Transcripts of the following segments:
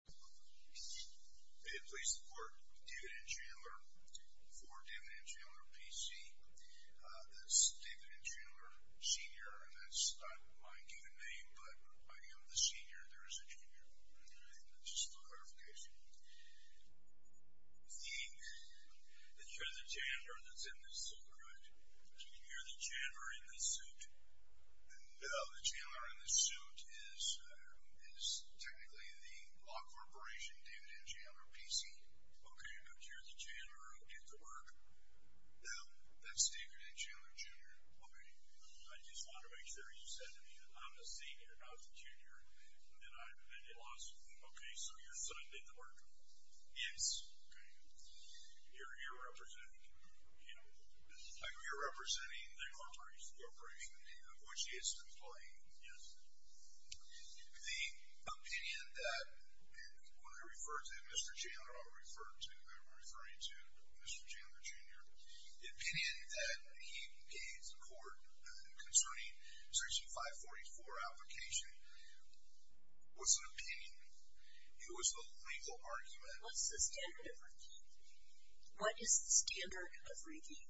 May it please the court, David N. Chandler, for David N. Chandler, P.C. That's David N. Chandler, Sr., and that's not my given name, but I am the Sr. There is a Jr. Just for clarification. The... It's for the Chandler that's in this suit, correct? Can you hear the Chandler in this suit? No. The Chandler in this suit is technically the law corporation, David N. Chandler, P.C. Okay, but you're the Chandler who did the work? No. That's David N. Chandler, Jr. Okay. I just want to make sure you said to me that I'm the Sr., not the Jr., and I lost... Okay, so your son did the work? Yes. Okay. You're here representing, you know... I'm here representing the corporation, which is the employee. Yes. The opinion that... When I refer to Mr. Chandler, I refer to... I'm referring to Mr. Chandler, Jr. The opinion that he gave the court concerning Section 544 application was an opinion. It was a legal argument. What's the standard of review? What is the standard of review?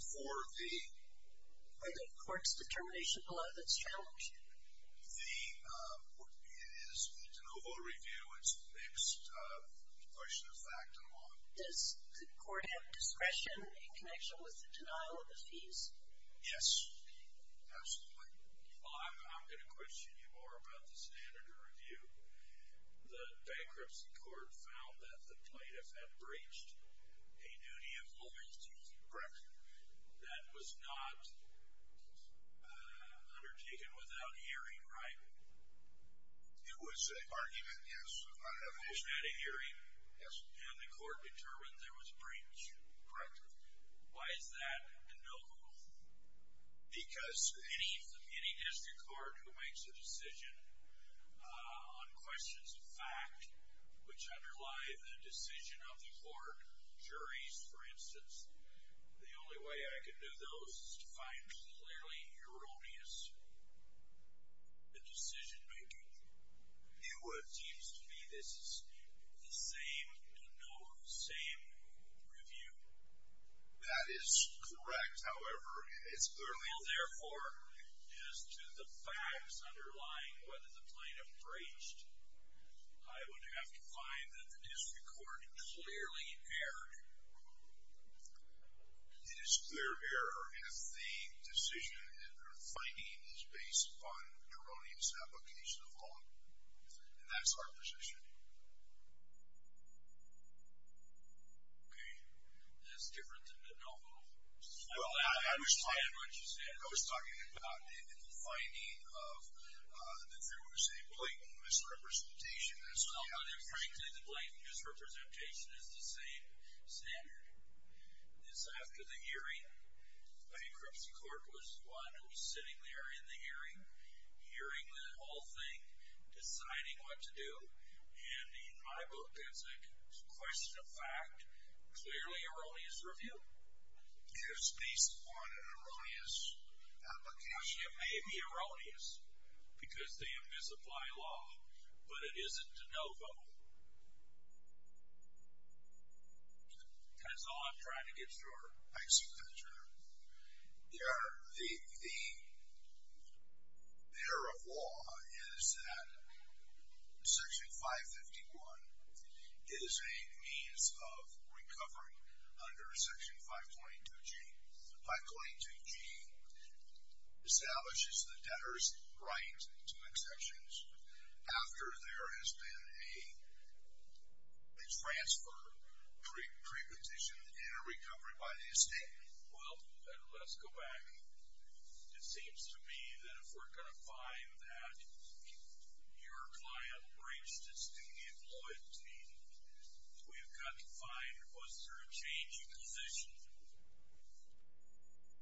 For the... For the court's determination below that's challenged? The... It is the de novo review. It's the next question of fact and law. Does the court have discretion in connection with the denial of the fees? Yes. Absolutely. I'm going to question you more about the standard of review. The bankruptcy court found that the plaintiff had breached a duty of loyalty. Correct. That was not undertaken without hearing, right? It was an argument, yes. The plaintiff had a hearing. Yes. And the court determined there was a breach. Correct. Why is that a no-go? Because... Any district court who makes a decision on questions of fact, which underlie the decision of the court, juries, for instance, the only way I can do those is to find clearly erroneous decision-making. It seems to me this is the same, no, same review. That is correct. However, it's clearly... Well, therefore, as to the facts underlying whether the plaintiff breached, I would have to find that the district court clearly erred. It is clear error if the decision or finding is based upon erroneous application of law. And that's our position. Okay. That's different than the no-go. Well, I understand what you said. I was talking about the finding of that there was a blatant misrepresentation. Frankly, the blatant misrepresentation is the same standard. It's after the hearing. I mean, Crimson Court was the one who was sitting there in the hearing, hearing the whole thing, deciding what to do. And in my book, that's a question of fact, clearly erroneous review. If it's based upon an erroneous application. It may be erroneous because they misapply law, but it isn't a no-go. That's all I'm trying to get to, Your Honor. Thanks for that, Your Honor. Your Honor, the error of law is that Section 551 is a means of recovery under Section 522G. 522G establishes the debtor's right to exemptions after there has been a transfer preposition in a recovery by the estate. Well, let's go back. It seems to me that if we're going to find that your client breached his duty of loyalty, we've got to find was there a change in position,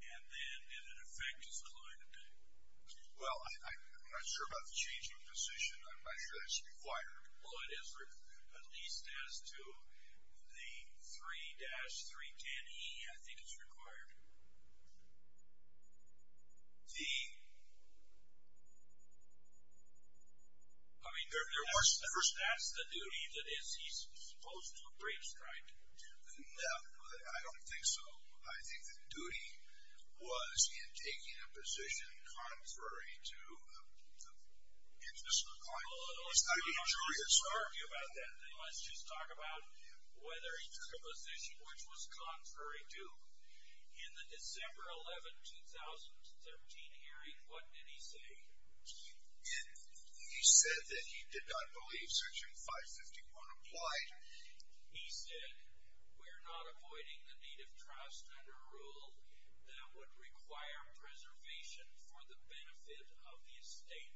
and then did it affect his client? Well, I'm not sure about the change in position. I'm not sure that's required. At least as to the 3-310E, I think it's required. I mean, that's the duty that he's supposed to have breached, right? No, I don't think so. I think the duty was in taking a position contrary to the interest of the Let's just talk about whether he took a position which was contrary to. In the December 11, 2013 hearing, what did he say? He said that he did not believe Section 551 applied. He said, we're not avoiding the need of trust under a rule that would require preservation for the benefit of the estate.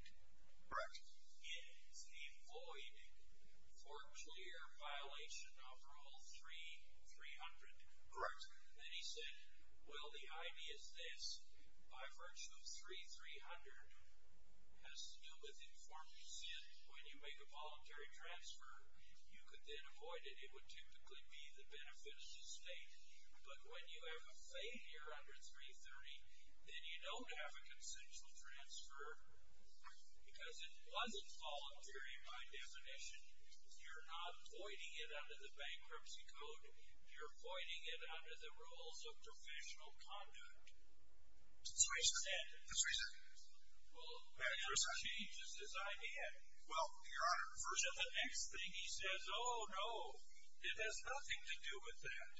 Correct. It's avoiding for clear violation of Rule 3-300. Correct. Then he said, well, the idea is this. By virtue of 3-300 has to do with informed sin. When you make a voluntary transfer, you could then avoid it. It would typically be the benefit of the estate. But when you have a failure under 330, then you don't have a consensual transfer, because it wasn't voluntary by definition. You're not avoiding it under the bankruptcy code. You're avoiding it under the rules of professional conduct. That's what he said. That's what he said. Well, that changes his idea. Well, Your Honor. The next thing he says, oh, no, it has nothing to do with that.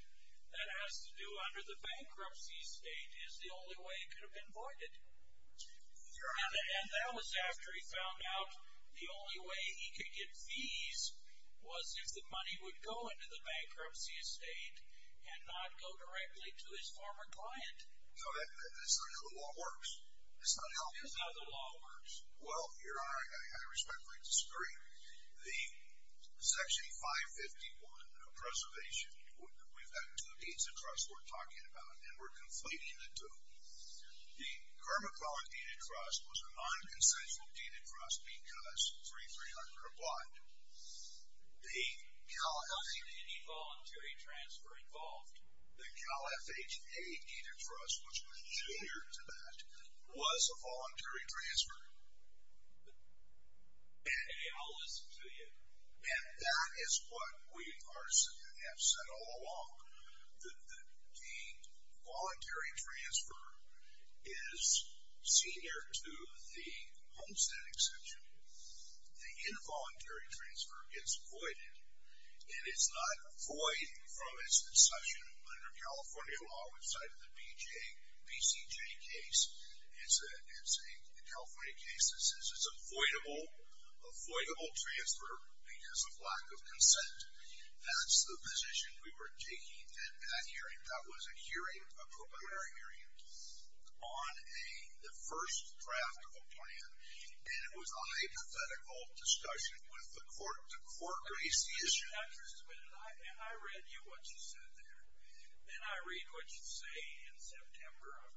That has to do under the bankruptcy state is the only way it could have been avoided. Your Honor. And that was after he found out the only way he could get fees was if the money would go into the bankruptcy estate and not go directly to his former client. No, that's not how the law works. That's not how the law works. That's not how the law works. Well, Your Honor, I respectfully disagree. The Section 551 of preservation, we've got two deeds of trust we're talking about, and we're completing the two. The Kermit Welland deed of trust was a non-consensual deed of trust because 3300 obliged. The Cal FHA deed of trust, which was junior to that, was a voluntary transfer. Okay, I'll listen to you. And that is what we have said all along. The voluntary transfer is senior to the homestead exception. The involuntary transfer gets avoided, and it's not void from its concession under California law. We cited the BCJ case. It's a California case. This is avoidable transfer because of lack of consent. That's the position we were taking at that hearing. That was a hearing, a preliminary hearing, on the first draft of a plan, and it was a hypothetical discussion with the court. The court raised the issue. I read you what you said there, and I read what you say in September of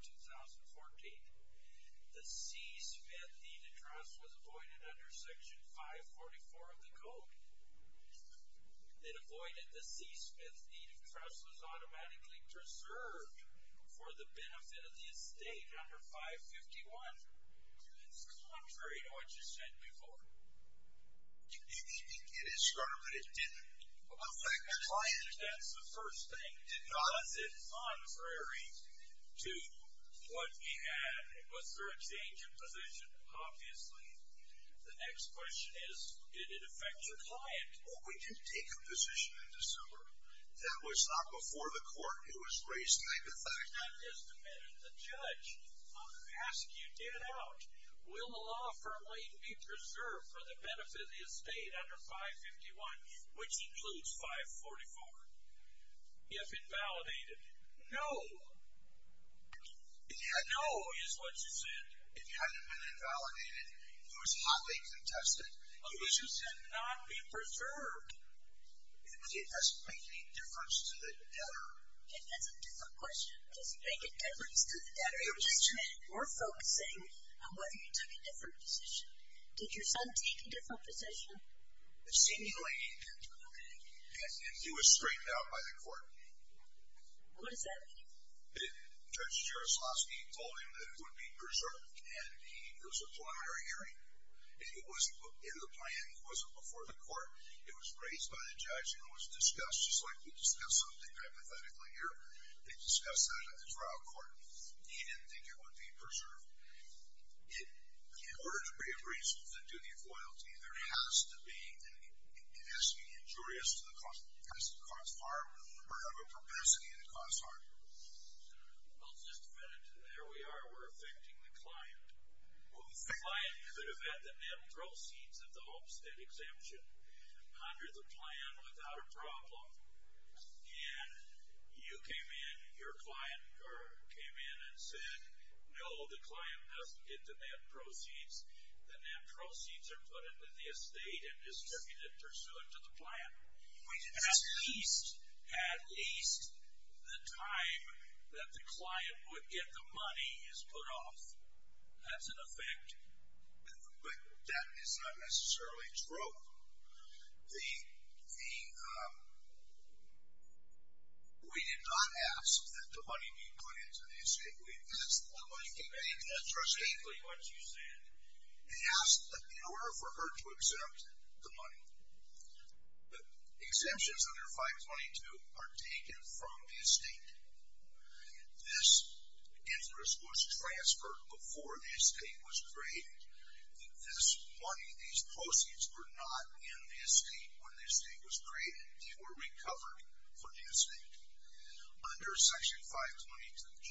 2014. The C. Smith deed of trust was avoided under Section 544 of the code. It avoided the C. Smith deed of trust was automatically preserved for the benefit of the estate under 551. It's contrary to what you said before. You may think it is contrary, but it didn't affect the plan. That's the first thing. Was it contrary to what we had? Was there a change in position? Obviously. The next question is did it affect your client? We did take a position in December. That was not before the court. It was raised by the fact. The judge asked you to get out. Will the law firmly be preserved for the benefit of the estate under 551, which includes 544? You have been validated. No. No is what you said. It hadn't been invalidated. It was hotly contested. You said not be preserved. It doesn't make any difference to the debtor. That's a different question. Does it make a difference to the debtor? We're focusing on whether you took a different position. Did your son take a different position? Seemingly. He was straightened out by the court. What does that mean? Judge Jaroslawski told him that it would be preserved, and it was a prior hearing. It was in the plan. It wasn't before the court. It was raised by the judge, and it was discussed, just like we discuss something hypothetically here. They discussed that at the trial court. He didn't think it would be preserved. In order to be a reason for the duty of loyalty, it has to be injurious to the cause. It has to cause harm or have a propensity to cause harm. I'll just finish. There we are. We're affecting the client. The client could have had the net proceeds of the Homestead exemption under the plan without a problem, and you came in, your client came in and said, no, the client doesn't get the net proceeds. The net proceeds are put into the estate and distributed pursuant to the plan. At least the time that the client would get the money is put off. That's an effect. But that is not necessarily true. We did not ask that the money be put into the estate. We asked that the money be put into the estate. They asked that in order for her to accept the money, the exemptions under 522 are taken from the estate. This interest was transferred before the estate was created. This money, these proceeds were not in the estate when the estate was created. They were recovered from the estate. Under Section 522G,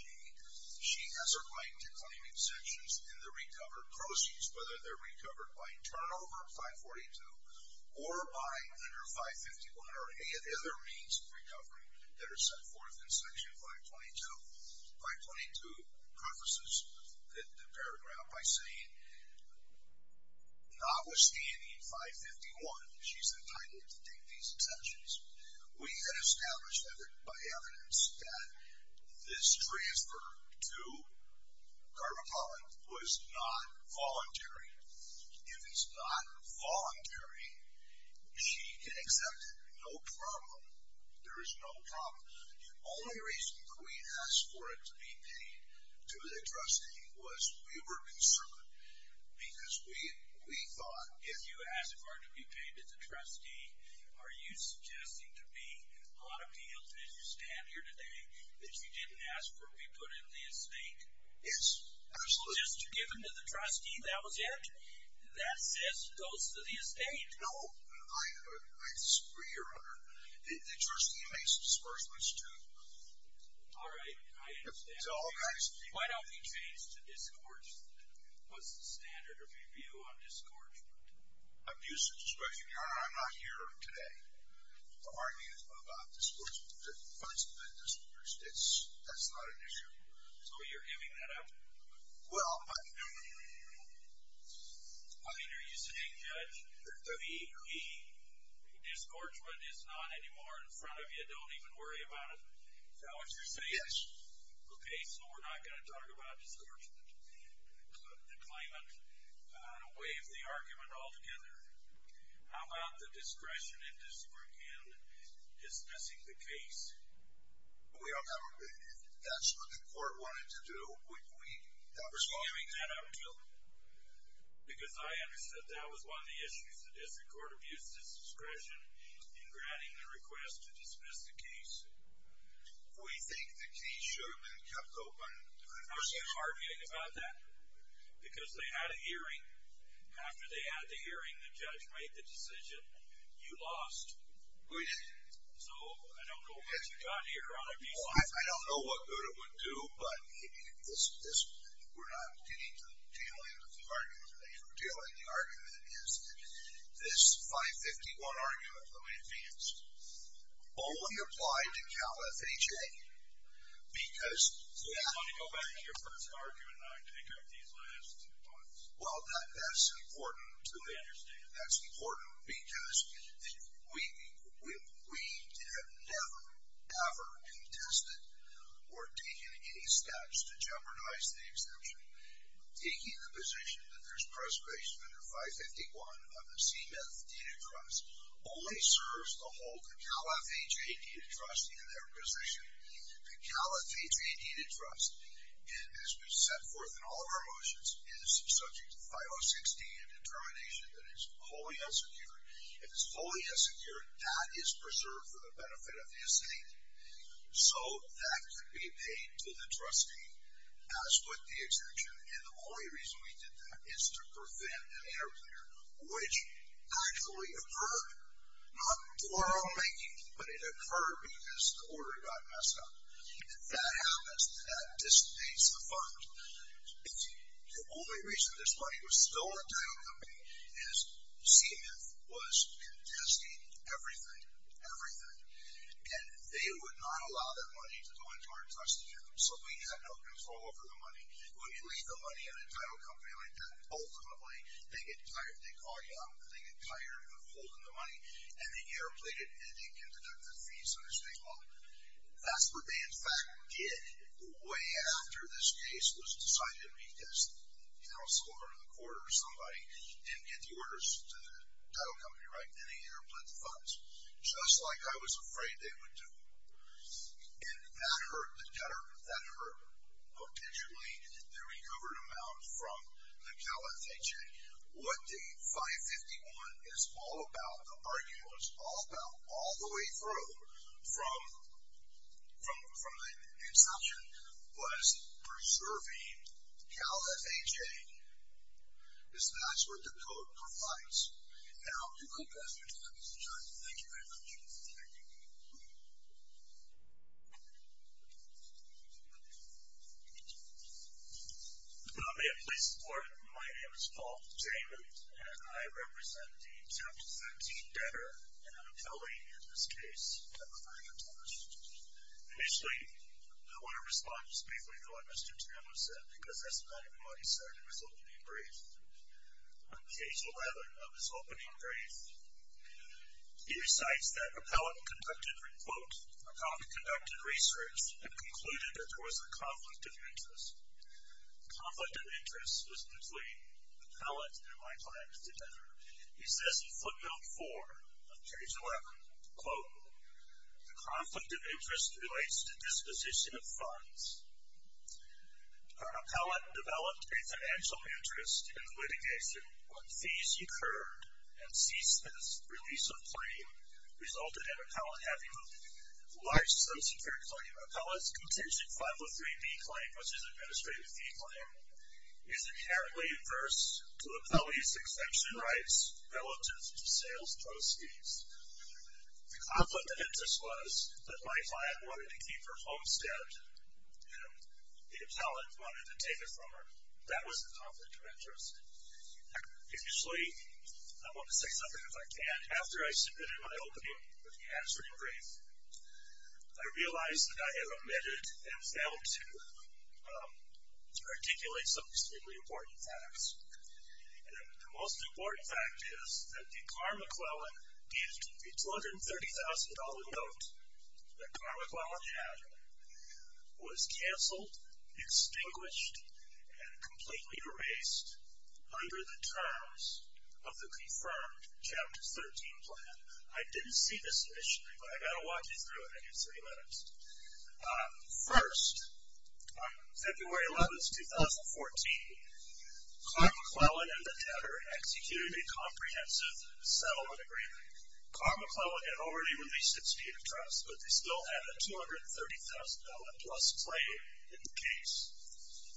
she has a right to claim exemptions in the recovered proceeds, whether they're recovered by turnover of 542 or by under 551 or any other means of recovery that are set forth in Section 522. 522 prefaces the paragraph by saying, notwithstanding 551, she's entitled to take these exemptions. We had established by evidence that this transfer to Carvapala was not voluntary. If it's not voluntary, she can accept it. No problem. There is no problem. The only reason that we asked for it to be paid to the trustee was we were concerned because we thought if you ask for it to be paid to the trustee, are you suggesting to me on appeal that you stand here today that you didn't ask for it to be put in the estate? Yes. Absolutely. Just given to the trustee that was it? That says it goes to the estate? No. I disagree, Your Honor. The trustee makes disbursements to all guys. Why don't we change to discord? What's the standard of review on discord? Abuse of discretion. Your Honor, I'm not here today to argue about discord. There must have been discord. That's not an issue. So you're giving that up? Well, I'm not giving it up. I mean, are you saying, Judge, the discouragement is not anymore in front of you? Don't even worry about it? Is that what you're saying? Yes. Okay. So we're not going to talk about discouragement. The claimant, I'm going to waive the argument altogether. How about the discretion in discord and dismissing the case? We don't have a big issue. That's what the court wanted to do. We're giving that up. Because I understood that was one of the issues. The district court abused its discretion in granting the request to dismiss the case. We think the case should have been kept open. I'm not arguing about that. Because they had a hearing. After they had the hearing, the judge made the decision. You lost. We did. So I don't know what you've got here on abuse of discretion. I don't know what Guta would do. But we're not getting to the tail end of the argument. The tail end of the argument is that this 551 argument, let me advance, only applied to Cal FHA. So you want to go back to your first argument and not pick up these last two points? Well, that's important to me. I understand. That's important because we have never, ever contested or taken any steps to jeopardize the exemption. Taking the position that there's preservation under 551 on the Cal FHA needed trust. And as we've set forth in all of our motions, it is subject to 506D, a determination that is wholly unsecured. If it's wholly unsecured, that is preserved for the benefit of the estate. So that could be paid to the trustee as would the exemption. And the only reason we did that is to prevent an interplayer, which actually occurred, not for our own making, but it occurred because the order got messed up. That happens. That disobeys the fund. The only reason this money was still in the title company is Seamith was contesting everything. Everything. And they would not allow that money to go into our trustees. So we had no control over the money. When you leave the money in a title company like that, ultimately they get tired. They call you up. They get tired of holding the money. And they air plate it and they can deduct the fees under state law. That's what they in fact did way after this case was decided because, you know, someone in the court or somebody didn't get the orders to the title company right. And they air plate the funds. Just like I was afraid they would do. And that hurt the debtor. That hurt potentially the recovered amount from the Cal FHA. What the 551 is all about, the argument was all about all the way through from the inception, was preserving Cal FHA. That's what the code provides. And I'll conclude that. Thank you very much. Thank you. May I please report. My name is Paul. And I represent the chapter 13 debtor. And I'm telling in this case. Initially, I want to respond just briefly to what Mr. said, because that's not even what he said in his opening brief. On page 11 of his opening brief. He recites that. Conducted. Conducted research and concluded that there was a conflict of interest. Conflict of interest was between the pellet and my client together. He says in footnote four of page 11, quote the conflict of interest relates to disposition of funds. Appellate developed a financial interest in litigation. When fees occurred and ceased, this release of claim resulted in appellate having a large, subsecured claim. Appellate's contingent 503B claim, which is administrative fee claim is inherently adverse to appellate's exemption rights relative to sales proceeds. The conflict of interest was that my client wanted to keep her homestead. And the appellate wanted to take it from her. That was the conflict of interest. Actually, I want to say something if I can. After I submitted my opening answering brief, I realized that I had omitted and failed to articulate some extremely important facts. And the most important fact is that the Carmichaelan used the $230,000 note that Carmichaelan had was canceled, extinguished, and completely erased under the terms of the confirmed Chapter 13 plan. I didn't see this initially, but I've got to walk you through it. I give three minutes. First, on February 11th, 2014, Carmichaelan and the debtor executed a comprehensive settlement agreement. Carmichaelan had already released its deed of trust, but they still had a $230,000-plus claim in the case.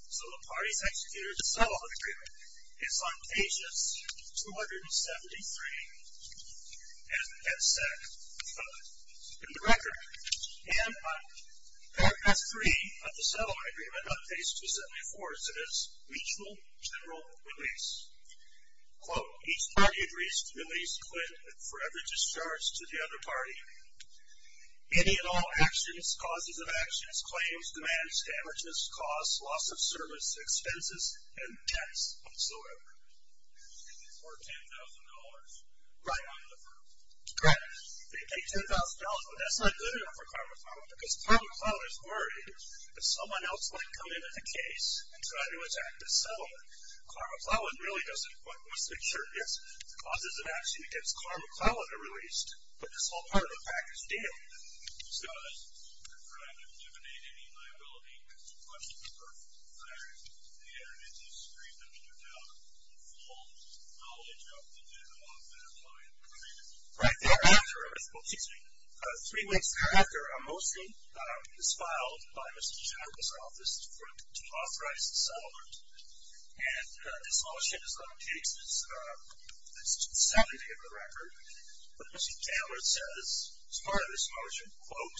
So the parties executed the settlement agreement. It's on pages 273 and 275 in the record. And on paragraph 3 of the settlement agreement, on page 274, it says, mutual general release. Quote, each party agrees to release Clint with forever discharge to the other party. Any and all actions, causes of actions, claims, demands, damages, costs, loss of service, expenses, and debts whatsoever for $10,000 right on the firm. Correct. They pay $10,000, but that's not good enough for Carmichaelan because Carmichaelan is worried that someone else might come into the case and try to attack the settlement. Carmichaelan really doesn't quite want to make sure the causes of action against Carmichaelan are released. But this whole part of the package did. Scott? I'm trying to eliminate any liability questions for Clarence. The evidence is screened up to account for the full knowledge of the development of my agreement. Right there. Three weeks after, a motion is filed by Mr. Chattanooga's office to authorize the settlement. And this motion is going to take the second day of the record. But Mr. Taylor says, as part of this motion, quote,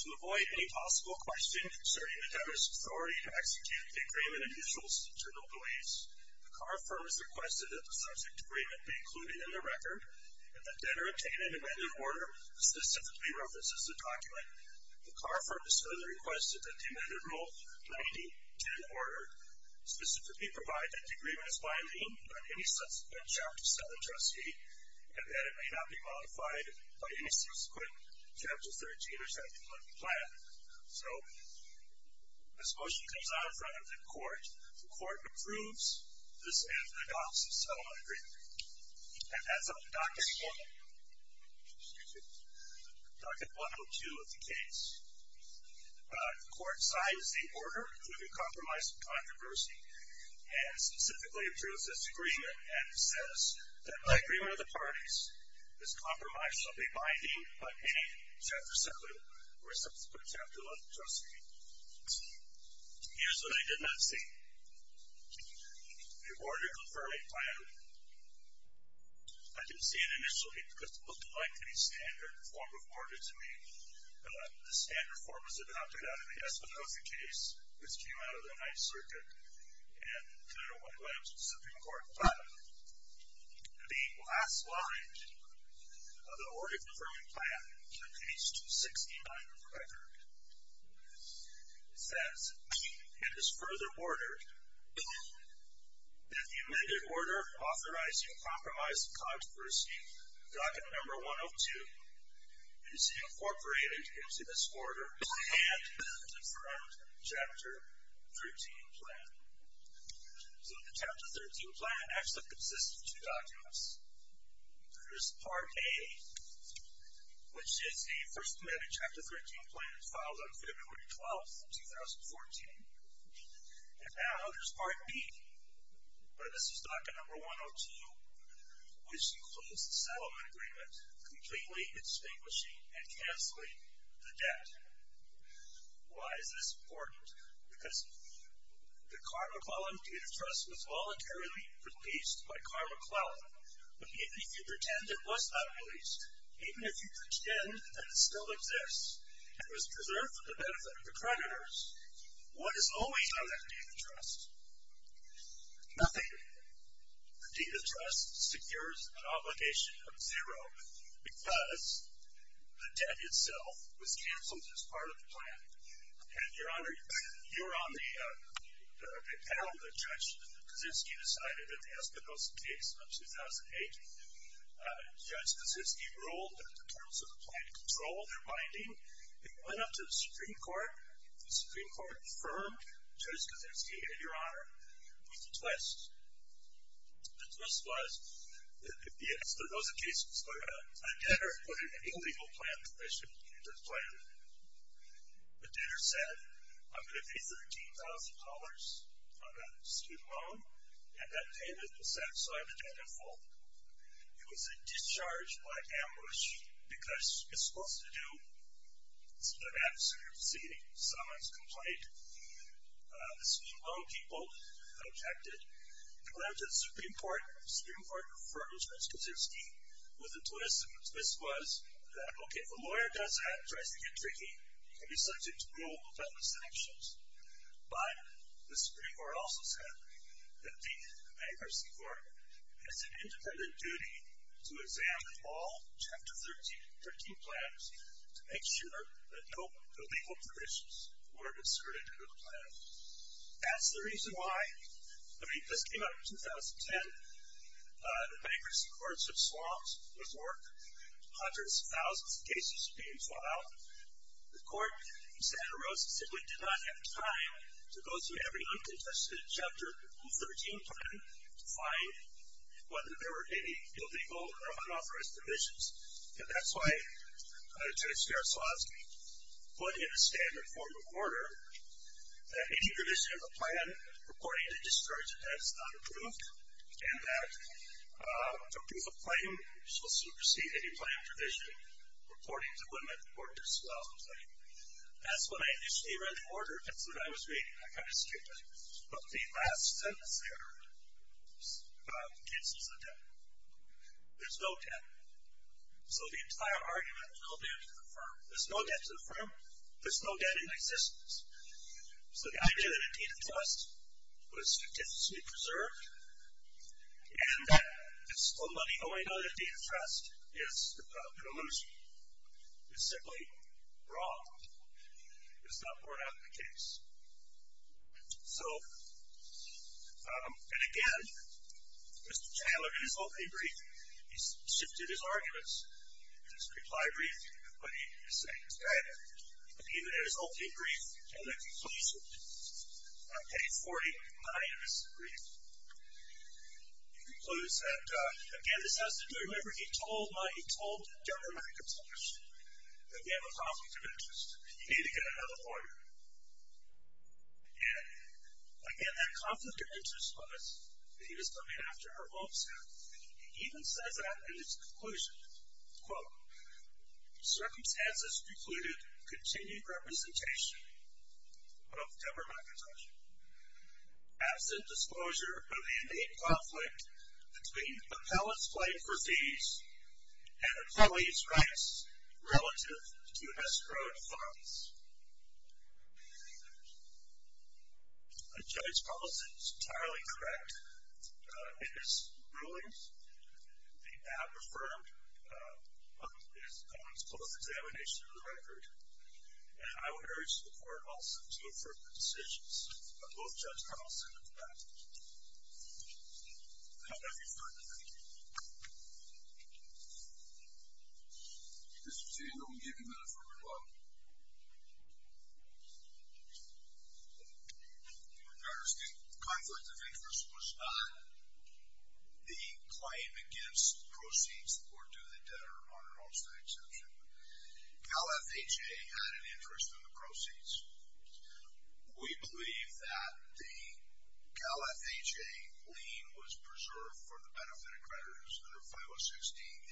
to avoid any possible question concerning the debtor's authority to execute the agreement initials internal beliefs, the Carr firm has requested that the subject agreement be included in the record and that debtor obtain an amended order that specifically references the document. The Carr firm has further requested that the amended rule 9010 order specifically provide that the agreement is binding on any subsequent Chapter 7 trustee and that it may not be modified by any subsequent Chapter 13 or Chapter 11 plan. So this motion comes out in front of the court. The court approves this amended adoption settlement agreement. And that's on document 102 of the case. The court signs the order, including compromise and controversy, and specifically approves this agreement and says that by agreement of the parties, this compromise shall be binding on any subsequent Chapter 11 trustee. Here's what I did not see. The order confirming plan. I didn't see it initially because it looked like a standard form of order to me. The standard form was adopted out of the Espinoza case, which came out of the Ninth Circuit, and I don't want to let it to the Supreme Court, but the last line of the order confirming plan, on page 269 of the record, it says and is further ordered that the amended order authorizing compromise and controversy, document number 102, is incorporated into this order and into the current Chapter 13 plan. So the Chapter 13 plan actually consists of two documents. There's part A, which is a first amendment Chapter 13 plan filed on February 12th, 2014. And now there's part B. But this is document number 102, which includes the settlement agreement completely extinguishing and canceling the debt. Why is this important? Because the Carmichaelan Data Trust was voluntarily released by Carmichael. But even if you pretend it was not released, even if you pretend that it still exists, it was preserved for the benefit of the creditors, what is always on that Data Trust? Nothing. The Data Trust secures an obligation of zero because the debt itself was canceled as part of the plan. And, Your Honor, you're on the panel that Judge Kaczynski decided that the Espinosa case of 2008, Judge Kaczynski ruled that the terms of the plan controlled their binding. It went up to the Supreme Court. The Supreme Court confirmed Judge Kaczynski and Your Honor with a twist. The twist was that the Espinosa case was a debtor, and they put an illegal plan in relation to the plan. The debtor said, I'm going to pay $13,000 on that student loan, and that payment was set so I'm a debtor of full. It was a discharge by ambush because it's supposed to do. It's an absolute seating. Someone's complaint. The student loan people objected. It went up to the Supreme Court. The Supreme Court confirmed Judge Kaczynski with a twist. The twist was that, okay, if a lawyer does that and tries to get tricky, he can be subject to rule of endless sanctions. But the Supreme Court also said that the bankruptcy court has an independent duty to examine all Chapter 13 plans to make sure that no illegal provisions were inserted into the plan. That's the reason why, I mean, this came out in 2010. The bankruptcy courts have swamped this work. Hundreds of thousands of cases are being sought out. The court in Santa Rosa simply did not have time to go through every uncontested Chapter 13 plan to find whether there were any illegal or unauthorized provisions. And that's why Judge Strasovski put in a standard form of order that any provision of a plan reporting to discouragement that it's not approved and that the proof of claim shall supersede any plan provision reporting to women or disloyalty. That's when I initially read the order. That's what I was reading. I kind of skipped it. But the last sentence there cancels the debt. There's no debt. So the entire argument, there's no debt to the firm. There's no debt to the firm. There's no debt in existence. So the idea that a deed of trust was statistically preserved and that it's only known as a deed of trust is an illusion. It's simply wrong. It's not borne out of the case. So, and again, Mr. Chandler, in his opening brief, he shifted his arguments. In his reply brief, what he is saying is that, in his opening brief and the conclusion, on page 49 of his brief, he concludes that, again, this has to do, remember, he told Governor McIntosh that we have a conflict of interest and you need to get another lawyer. And, again, that conflict of interest was that he was coming after her mom's health. He even says that in his conclusion, quote, circumstances precluded continued representation of Governor McIntosh, absent disclosure of the innate conflict between appellants' claim for fees and employees' rights relative to escrowed funds. A judge's policy is entirely correct. In his rulings, the app affirmed his opponent's close examination of the record, and I would urge the court also to affirm the decisions of both Judge Carlson and the defendant. Now, let me turn to Mr. Chandler. Mr. Chandler, will you give a minute for rebuttal? Thank you. Your Honor, the conflict of interest was not the claim against proceeds. The court did the debtor on an all-state exemption. Cal FHA had an interest in the proceeds. We believe that the Cal FHA lien was preserved for the benefit of creditors, and a 5060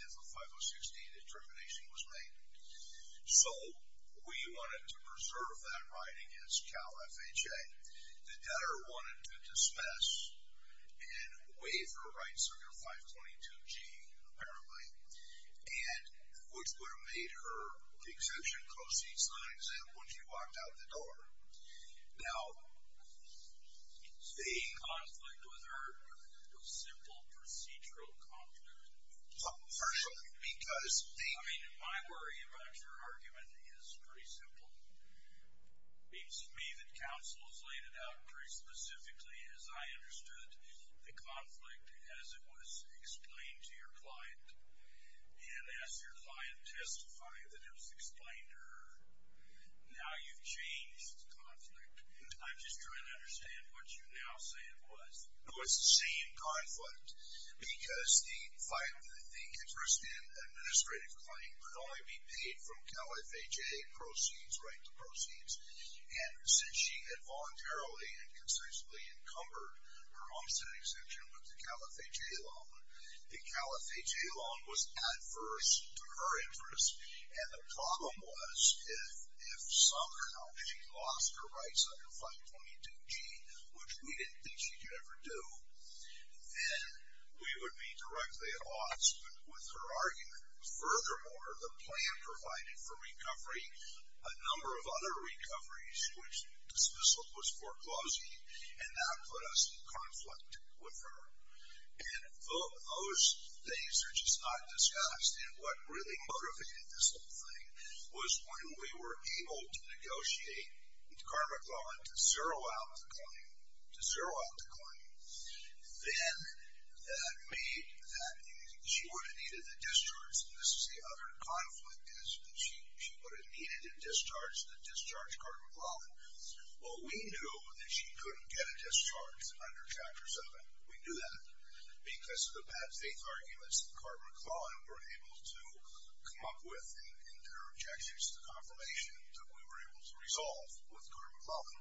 is a 5060 determination was made. So we wanted to preserve that right against Cal FHA. The debtor wanted to dismiss and waive her rights under 522G, apparently, which would have made her exemption proceeds non-exempt when she walked out the door. Now, the conflict with her was simple procedural conflict. I mean, my worry about your argument is pretty simple. It seems to me that counsel has laid it out pretty specifically, as I understood the conflict as it was explained to your client. And as your client testified that it was explained to her, now you've changed the conflict. I'm just trying to understand what you now say it was. No, it's the same conflict, because the interest in administrative claim would only be paid from Cal FHA proceeds, right to proceeds. And since she had voluntarily and concisely encumbered her all-state exemption with the Cal FHA loan, the Cal FHA loan was adverse to her interest. And the problem was if somehow she lost her rights under 522G, which we didn't think she could ever do, then we would be directly at odds with her argument. Furthermore, the plan provided for recovery, a number of other recoveries which the dismissal was foreclosing, and that put us in conflict with her. And those things are just not discussed. And what really motivated this whole thing was when we were able to negotiate with Carter McClellan to zero out the claim, to zero out the claim, then that made that she would have needed a discharge. And this is the other conflict is that she would have needed a discharge to discharge Carter McClellan. Well, we knew that she couldn't get a discharge under Chapter 7. We knew that because of the bad faith arguments that Carter McClellan were able to come up with and their objections to the confirmation that we were able to resolve with Carter McClellan.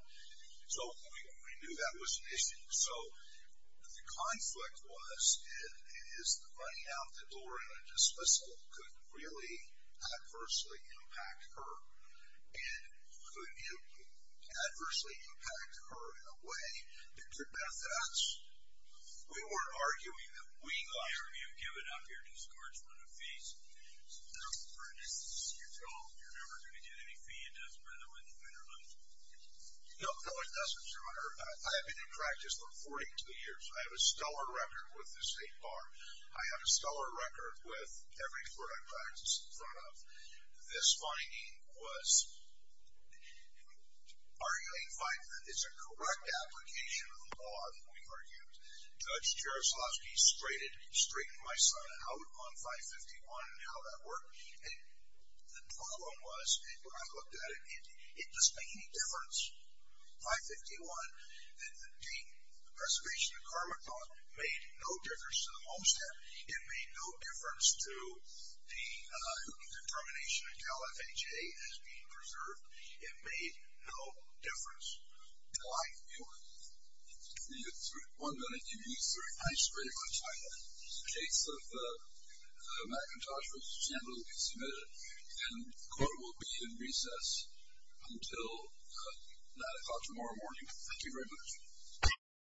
So we knew that was an issue. So the conflict was it is the running out the door and a dismissal could really adversely impact her and could adversely impact her in a way that could benefit us. We weren't arguing that we got her. You have given up your discouragement of fees. You're told you're never going to get any fee and doesn't matter whether you win or lose. No, it doesn't, Your Honor. I have been in practice for 42 years. I have a stellar record with the State Bar. I have a stellar record with every court I've practiced in front of. This finding was arguing that it's a correct application of the law Judge Jaroslawski straightened my son out on 551 and how that worked. The problem was when I looked at it, it doesn't make any difference. 551, the Preservation of Karmic Law, made no difference to the mole stamp. It made no difference to the termination of Cal FHA as being preserved. It made no difference to my view. We have one minute. You can use the rest of your time. The case of McIntosh v. Chandler will be submitted, and the court will be in recess until 9 o'clock tomorrow morning. Thank you very much.